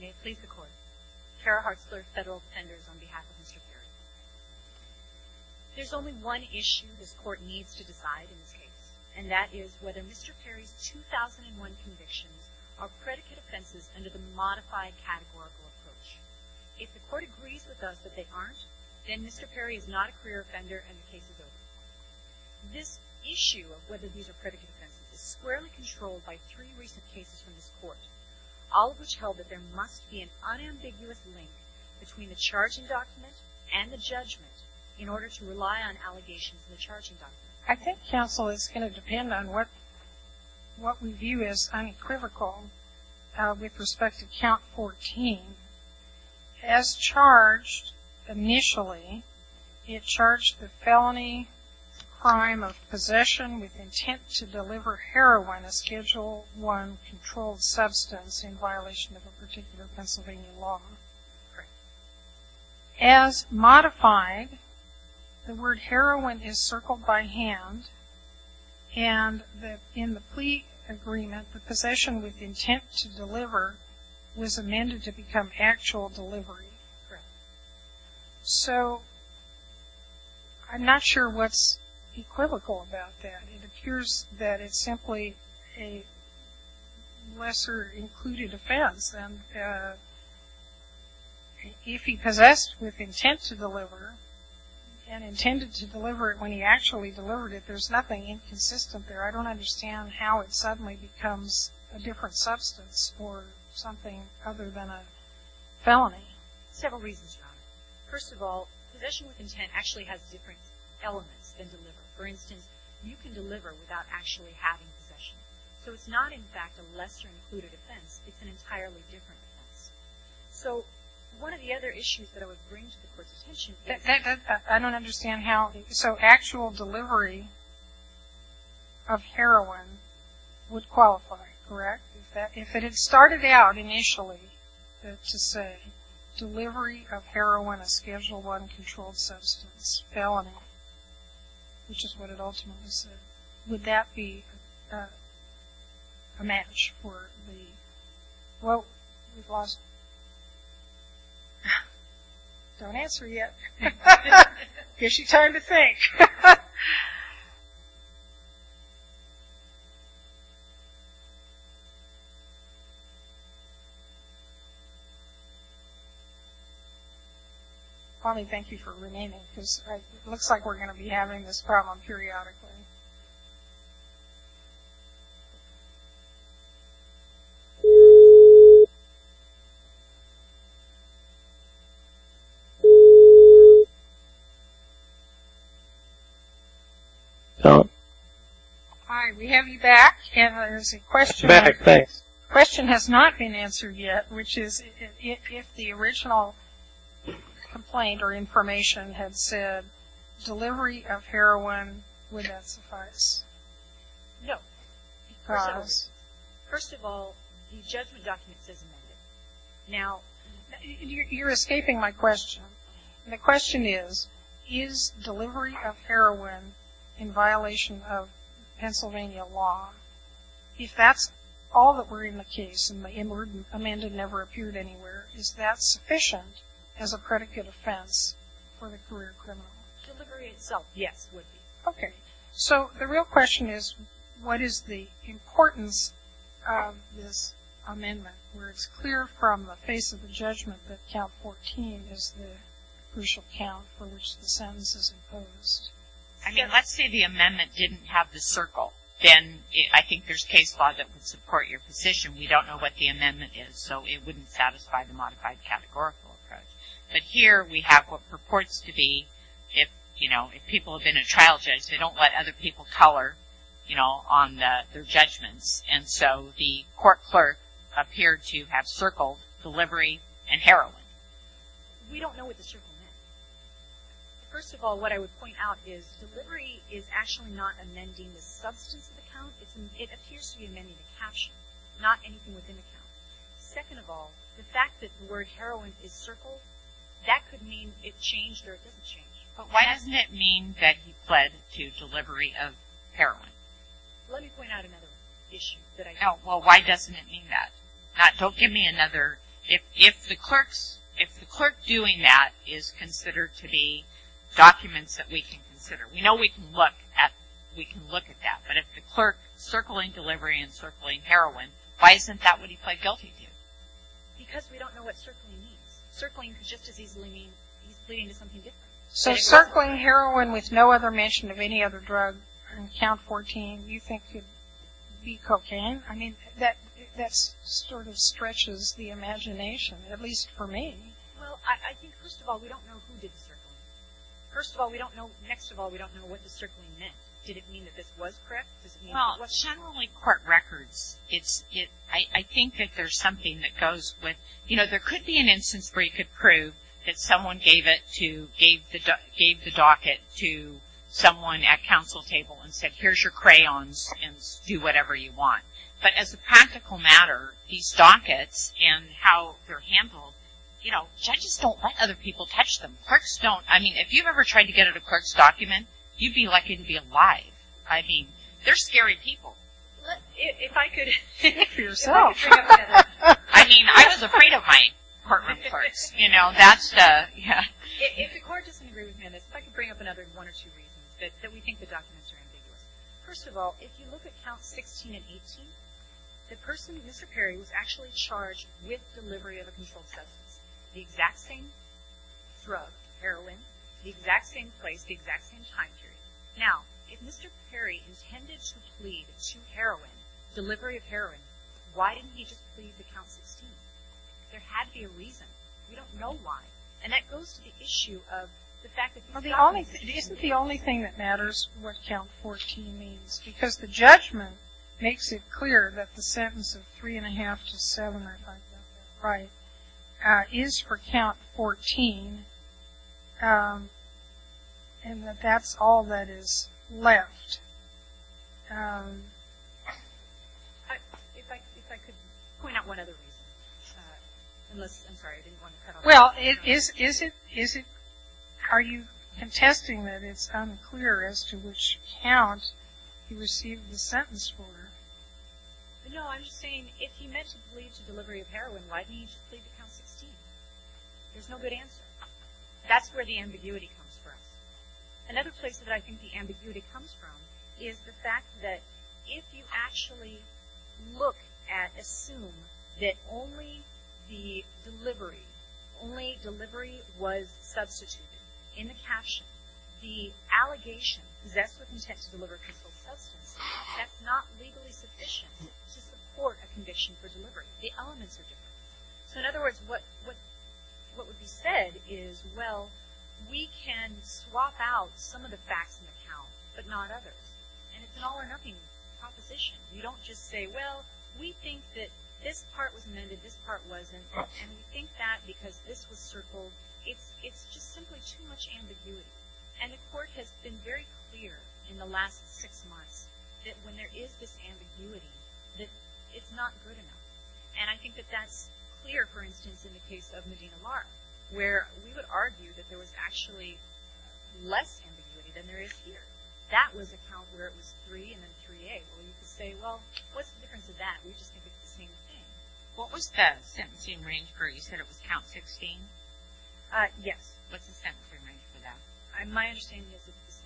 May it please the Court, Kara Hartzler, Federal Defenders, on behalf of Mr. Perry. There is only one issue this Court needs to decide in this case, and that is whether Mr. Perry's 2001 convictions are predicate offenses under the modified categorical approach. If the Court agrees with us that they aren't, then Mr. Perry is not a career offender and the case is over. This issue of whether these are predicate offenses is squarely controlled by three recent cases from this Court. All of which held that there must be an unambiguous link between the charging document and the judgment in order to rely on allegations in the charging document. I think, counsel, it's going to depend on what we view as unequivocal. With respect to count 14, as charged initially, it charged the felony crime of possession with intent to deliver heroin, a Schedule I controlled substance, in violation of a particular Pennsylvania law. As modified, the word heroin is circled by hand and that in the plea agreement, the possession with intent to deliver was amended to become actual delivery. So, I'm not sure what's equivocal about that. It appears that it's simply a lesser included offense and if he possessed with intent to deliver and intended to deliver it when he actually delivered it, there's nothing inconsistent there. I don't understand how it suddenly becomes a different substance or something other than a felony. Several reasons for that. First of all, possession with intent actually has different elements than deliver. For instance, you can deliver without actually having possession. So, it's not in fact a lesser included offense. It's an entirely different offense. So, one of the other issues that I would bring to the Court's attention is that I don't understand how, so actual delivery of heroin would qualify, correct? If it had started out initially to say delivery of heroin, a Schedule I controlled substance, felony, which is what it ultimately said, would that be a match for the? Well, we've lost. Don't answer yet. Here's your time to think. Okay. Don't. All right, we have you back and there's a question. I'm back, thanks. The question has not been answered yet, which is if the original complaint or information had said delivery of heroin, would that suffice? No. Because? First of all, the judgment document says no. Now, you're escaping my question. The question is, is delivery of heroin in violation of Pennsylvania law, if that's all that were in the case and the inward amendment never appeared anywhere, is that sufficient as a predicate offense for the career criminal? Delivery itself, yes, would be. Okay. So the real question is, what is the importance of this amendment, where it's clear from the face of the judgment that count 14 is the crucial count for which the sentence is imposed? I mean, let's say the amendment didn't have the circle. Then I think there's case law that would support your position. We don't know what the amendment is, so it wouldn't satisfy the modified categorical approach. But here we have what purports to be, if, you know, if people have been a trial judge, they don't let other people color, you know, on their judgments. And so the court clerk appeared to have circled delivery and heroin. We don't know what the circle meant. First of all, what I would point out is, delivery is actually not amending the substance of the count. It appears to be amending the caption, not anything within the count. Second of all, the fact that the word heroin is circled, that could mean it changed or it doesn't change. But why doesn't it mean that he pled to delivery of heroin? Let me point out another issue that I have. Well, why doesn't it mean that? Don't give me another. If the clerk doing that is considered to be documents that we can consider, we know we can look at that. But if the clerk circling delivery and circling heroin, why isn't that what he pled guilty to? Because we don't know what circling means. Circling could just as easily mean he's pleading to something different. So circling heroin with no other mention of any other drug on count 14, you think could be cocaine? I mean, that sort of stretches the imagination, at least for me. Well, I think, first of all, we don't know who did the circling. First of all, we don't know, next of all, we don't know what the circling meant. Did it mean that this was correct? Well, generally court records, I think that there's something that goes with, you know, there could be an instance where you could prove that someone gave it to, gave the docket to someone at counsel table and said, here's your crayons and do whatever you want. But as a practical matter, these dockets and how they're handled, you know, judges don't let other people touch them. Clerks don't. I mean, if you've ever tried to get at a clerk's document, you'd be lucky to be alive. I mean, they're scary people. If I could. For yourself. I mean, I was afraid of my courtroom clerks, you know, that's the, yeah. If the court doesn't agree with me on this, if I could bring up another one or two reasons that we think the documents are ambiguous. First of all, if you look at counts 16 and 18, the person, Mr. Perry, was actually charged with delivery of a controlled substance, the exact same drug, heroin, the exact same place, the exact same time period. Now, if Mr. Perry intended to plead to heroin, delivery of heroin, why didn't he just plead to count 16? There had to be a reason. We don't know why. And that goes to the issue of the fact that these documents. It isn't the only thing that matters, what count 14 means, because the judgment makes it clear that the sentence of three and a half to seven, is for count 14, and that that's all that is left. If I could point out one other reason. I'm sorry, I didn't want to cut off. Well, is it, are you contesting that it's unclear as to which count he received the sentence for? No, I'm just saying, if he meant to plead to delivery of heroin, why didn't he just plead to count 16? There's no good answer. That's where the ambiguity comes from. Another place that I think the ambiguity comes from is the fact that if you actually look at, assume that only the delivery, only delivery was substituted in the caption, the allegation, possessed with intent to deliver a concealed substance, that's not legally sufficient to support a conviction for delivery. The elements are different. So in other words, what would be said is, well, we can swap out some of the facts in the count, but not others. And it's an all or nothing proposition. You don't just say, well, we think that this part was amended, this part wasn't, and we think that because this was circled. It's just simply too much ambiguity. And the court has been very clear in the last six months that when there is this ambiguity, that it's not good enough. And I think that that's clear, for instance, in the case of Medina Lara, where we would argue that there was actually less ambiguity than there is here. That was a count where it was 3 and then 3A. Well, you could say, well, what's the difference of that? We just think it's the same thing. What was the sentencing range for it? You said it was count 16? Yes. What's the sentencing range for that? My understanding is it's the same.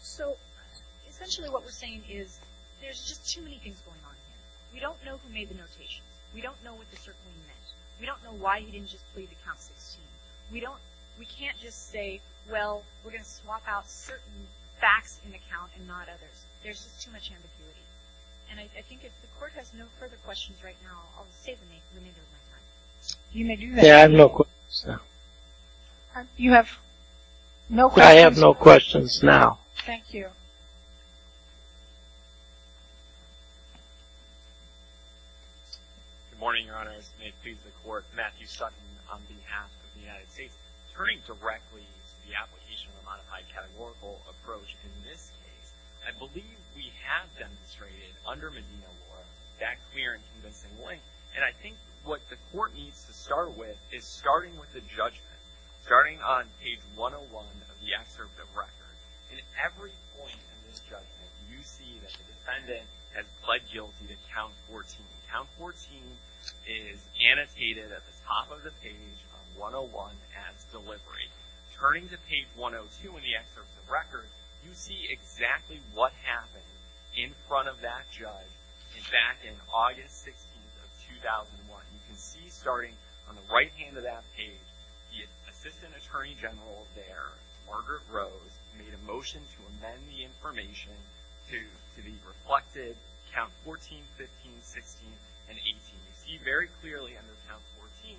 So essentially what we're saying is there's just too many things going on here. We don't know who made the notations. We don't know what the circling meant. We don't know why he didn't just plead to count 16. We can't just say, well, we're going to swap out certain facts in the count and not others. There's just too much ambiguity. And I think if the Court has no further questions right now, I'll save the remainder of my time. You may do that. I have no questions now. You have no questions? I have no questions now. Thank you. Good morning, Your Honors. May it please the Court. Matthew Sutton on behalf of the United States. Turning directly to the application of a modified categorical approach in this case, I believe we have demonstrated under Medina Law that clear and convincing link. And I think what the Court needs to start with is starting with the judgment, starting on page 101 of the excerpt of record. At every point in this judgment, you see that the defendant has pled guilty to count 14. Count 14 is annotated at the top of the page on 101 as deliberate. Turning to page 102 in the excerpt of record, you see exactly what happened in front of that judge back in August 16th of 2001. You can see starting on the right hand of that page, the Assistant Attorney General there, Margaret Rose, made a motion to amend the information to the reflected count 14, 15, 16, and 18. You see very clearly under count 14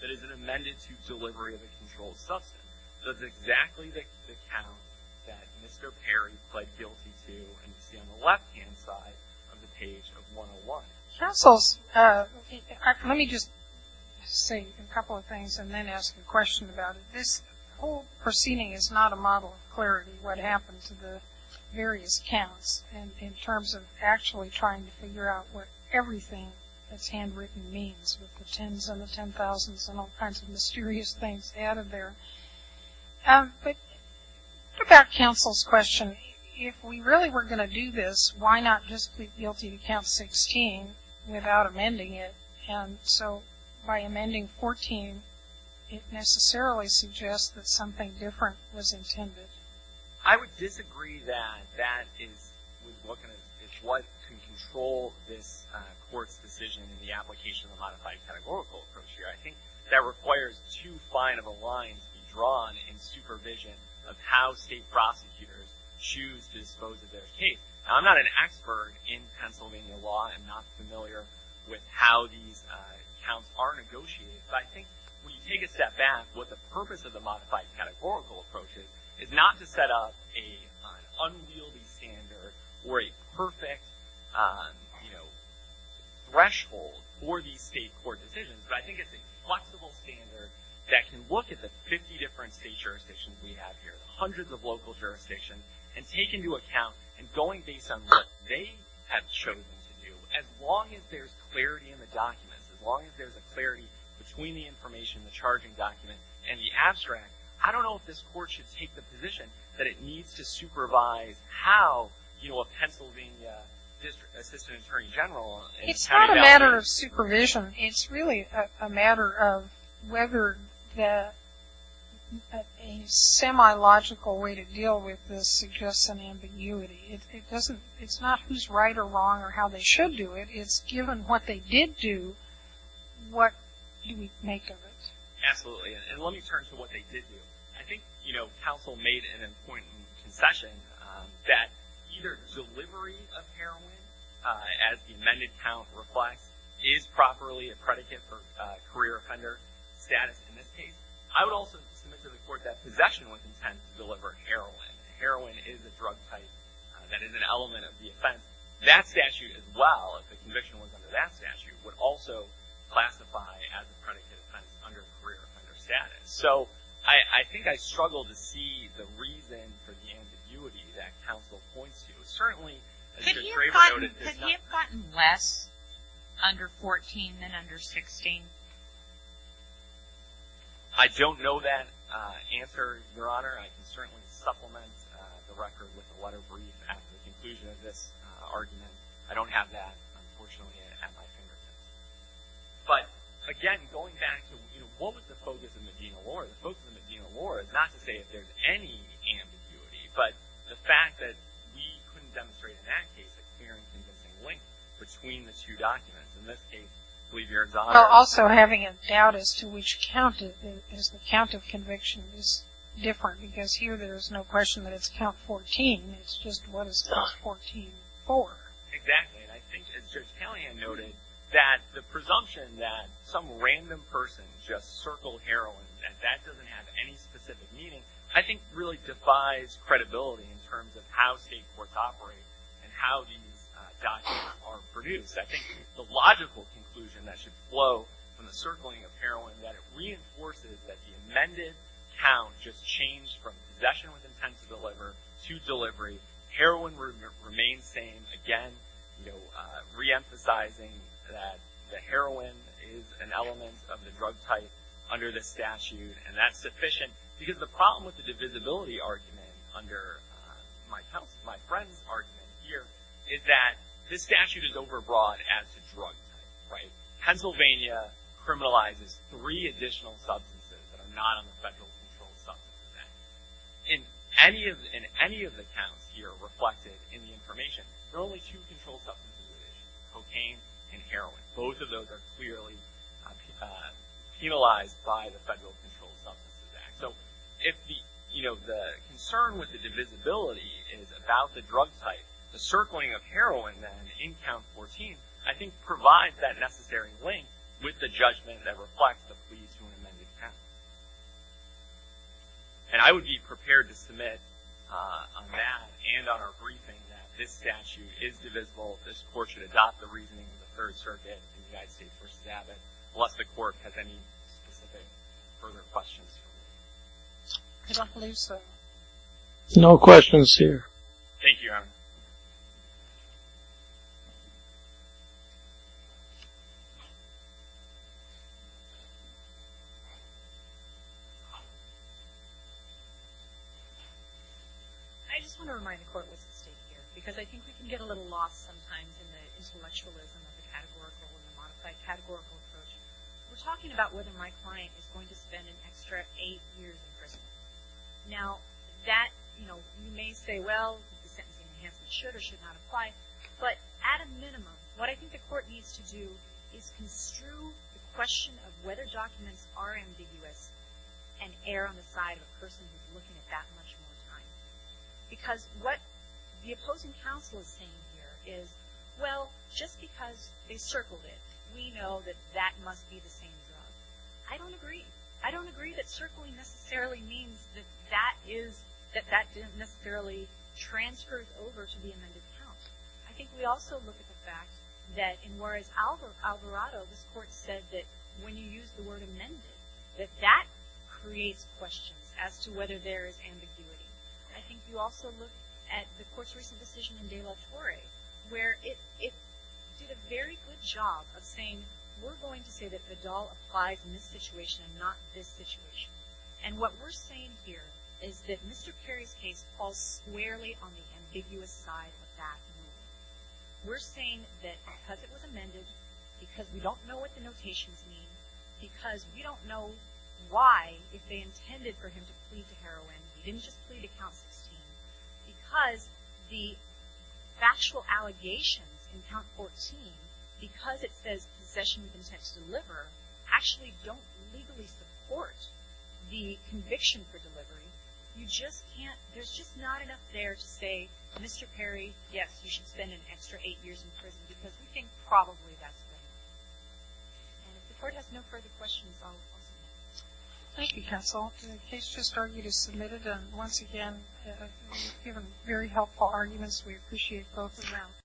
that is an amended to delivery of a controlled substance. That's exactly the count that Mr. Perry pled guilty to, and you see on the left hand side of the page of 101. Counsel, let me just say a couple of things and then ask a question about it. This whole proceeding is not a model of clarity what happened to the various counts in terms of actually trying to figure out what everything that's handwritten means, with the tens and the ten thousands and all kinds of mysterious things added there. But about counsel's question, if we really were going to do this, why not just plead guilty to count 16 without amending it? And so by amending 14, it necessarily suggests that something different was intended. I would disagree that that is what can control this court's decision in the application of the modified categorical approach here. I think that requires two fine of a line to be drawn in supervision of how state prosecutors choose to dispose of their case. Now, I'm not an expert in Pennsylvania law. I'm not familiar with how these counts are negotiated. But I think when you take a step back, what the purpose of the modified categorical approach is, is not to set up an unwieldy standard or a perfect, you know, threshold for these state court decisions. But I think it's a flexible standard that can look at the 50 different state jurisdictions we have here, the hundreds of local jurisdictions, and take into account and going based on what they have chosen to do, as long as there's clarity in the documents, as long as there's a clarity between the information, the charging document, and the abstract. I don't know if this court should take the position that it needs to supervise how, you know, a Pennsylvania assistant attorney general is counting down. It's not a matter of supervision. It's really a matter of whether a semi-logical way to deal with this suggests an ambiguity. It's not who's right or wrong or how they should do it. It's given what they did do, what do we make of it? Absolutely. And let me turn to what they did do. I think, you know, counsel made an important concession that either delivery of heroin, as the amended count reflects, is properly a predicate for career offender status in this case. I would also submit to the court that possession with intent to deliver heroin. That statute, as well, if the conviction was under that statute, would also classify as a predicate that's under career offender status. So I think I struggle to see the reason for the ambiguity that counsel points to. Certainly, as your traitor noted, it's not. Could he have gotten less under 14 than under 16? I don't know that answer, Your Honor. I can certainly supplement the record with a letter brief at the conclusion of this argument. I don't have that, unfortunately, at my fingertips. But, again, going back to, you know, what was the focus of the Medina Law? The focus of the Medina Law is not to say if there's any ambiguity, but the fact that we couldn't demonstrate, in that case, a clear and convincing link between the two documents. In this case, I believe you're exotic. Also, having a doubt as to which count, as the count of conviction is different, because here there's no question that it's count 14. It's just what is count 14 for? Exactly. And I think, as Judge Callahan noted, that the presumption that some random person just circled heroin, that that doesn't have any specific meaning, I think, really defies credibility in terms of how state courts operate and how these documents are produced. I think the logical conclusion that should flow from the circling of heroin, that it reinforces that the amended count just changed from possession with intent to deliver to delivery. Heroin remains same. Again, you know, reemphasizing that the heroin is an element of the drug type under the statute, and that's sufficient because the problem with the divisibility argument under my friend's argument here is that this statute is overbroad as to drug type, right? Pennsylvania criminalizes three additional substances that are not on the Federal Controlled Substances Act. In any of the counts here reflected in the information, there are only two controlled substances, cocaine and heroin. Both of those are clearly penalized by the Federal Controlled Substances Act. So if the, you know, the concern with the divisibility is about the drug type, the circling of heroin then in Count 14, I think, provides that necessary link with the judgment that reflects the plea to an amended count. And I would be prepared to submit on that and on our briefing that this statute is divisible. This Court should adopt the reasoning of the Third Circuit in the United States v. Abbott, unless the Court has any specific further questions for me. I don't believe so. No questions here. Thank you, Adam. I just want to remind the Court what's at stake here, because I think we can get a little lost sometimes in the intellectualism of the categorical and the modified categorical approach. We're talking about whether my client is going to spend an extra eight years in prison. Now, that, you know, you may say, well, the sentencing enhancement should or should not apply. But at a minimum, what I think the Court needs to do is construe the question of whether documents are ambiguous and err on the side of a person who's looking at that much more time. Because what the opposing counsel is saying here is, well, just because they circled it, we know that that must be the same drug. I don't agree. I don't agree that circling necessarily means that that is, that that didn't necessarily transfer over to the amended count. I think we also look at the fact that in Juarez-Alvarado, this Court said that when you use the word amended, that that creates questions as to whether there is ambiguity. I think you also look at the Court's recent decision in De La Torre, where it did a very good job of saying, we're going to say that Vidal applies in this situation and not this situation. And what we're saying here is that Mr. Carey's case falls squarely on the ambiguous side of that rule. We're saying that because it was amended, because we don't know what the notations mean, because we don't know why, if they intended for him to plead to heroin, he didn't just plead to count 16, because the factual allegations in count 14, because it says possession of intent to deliver, actually don't legally support the conviction for delivery. You just can't, there's just not enough there to say, Mr. Carey, yes, you should spend an extra eight years in prison, because we think probably that's better. And if the Court has no further questions, I'll close the meeting. Thank you, Counsel. The case just argued is submitted. And once again, you've given very helpful arguments. We appreciate both of them.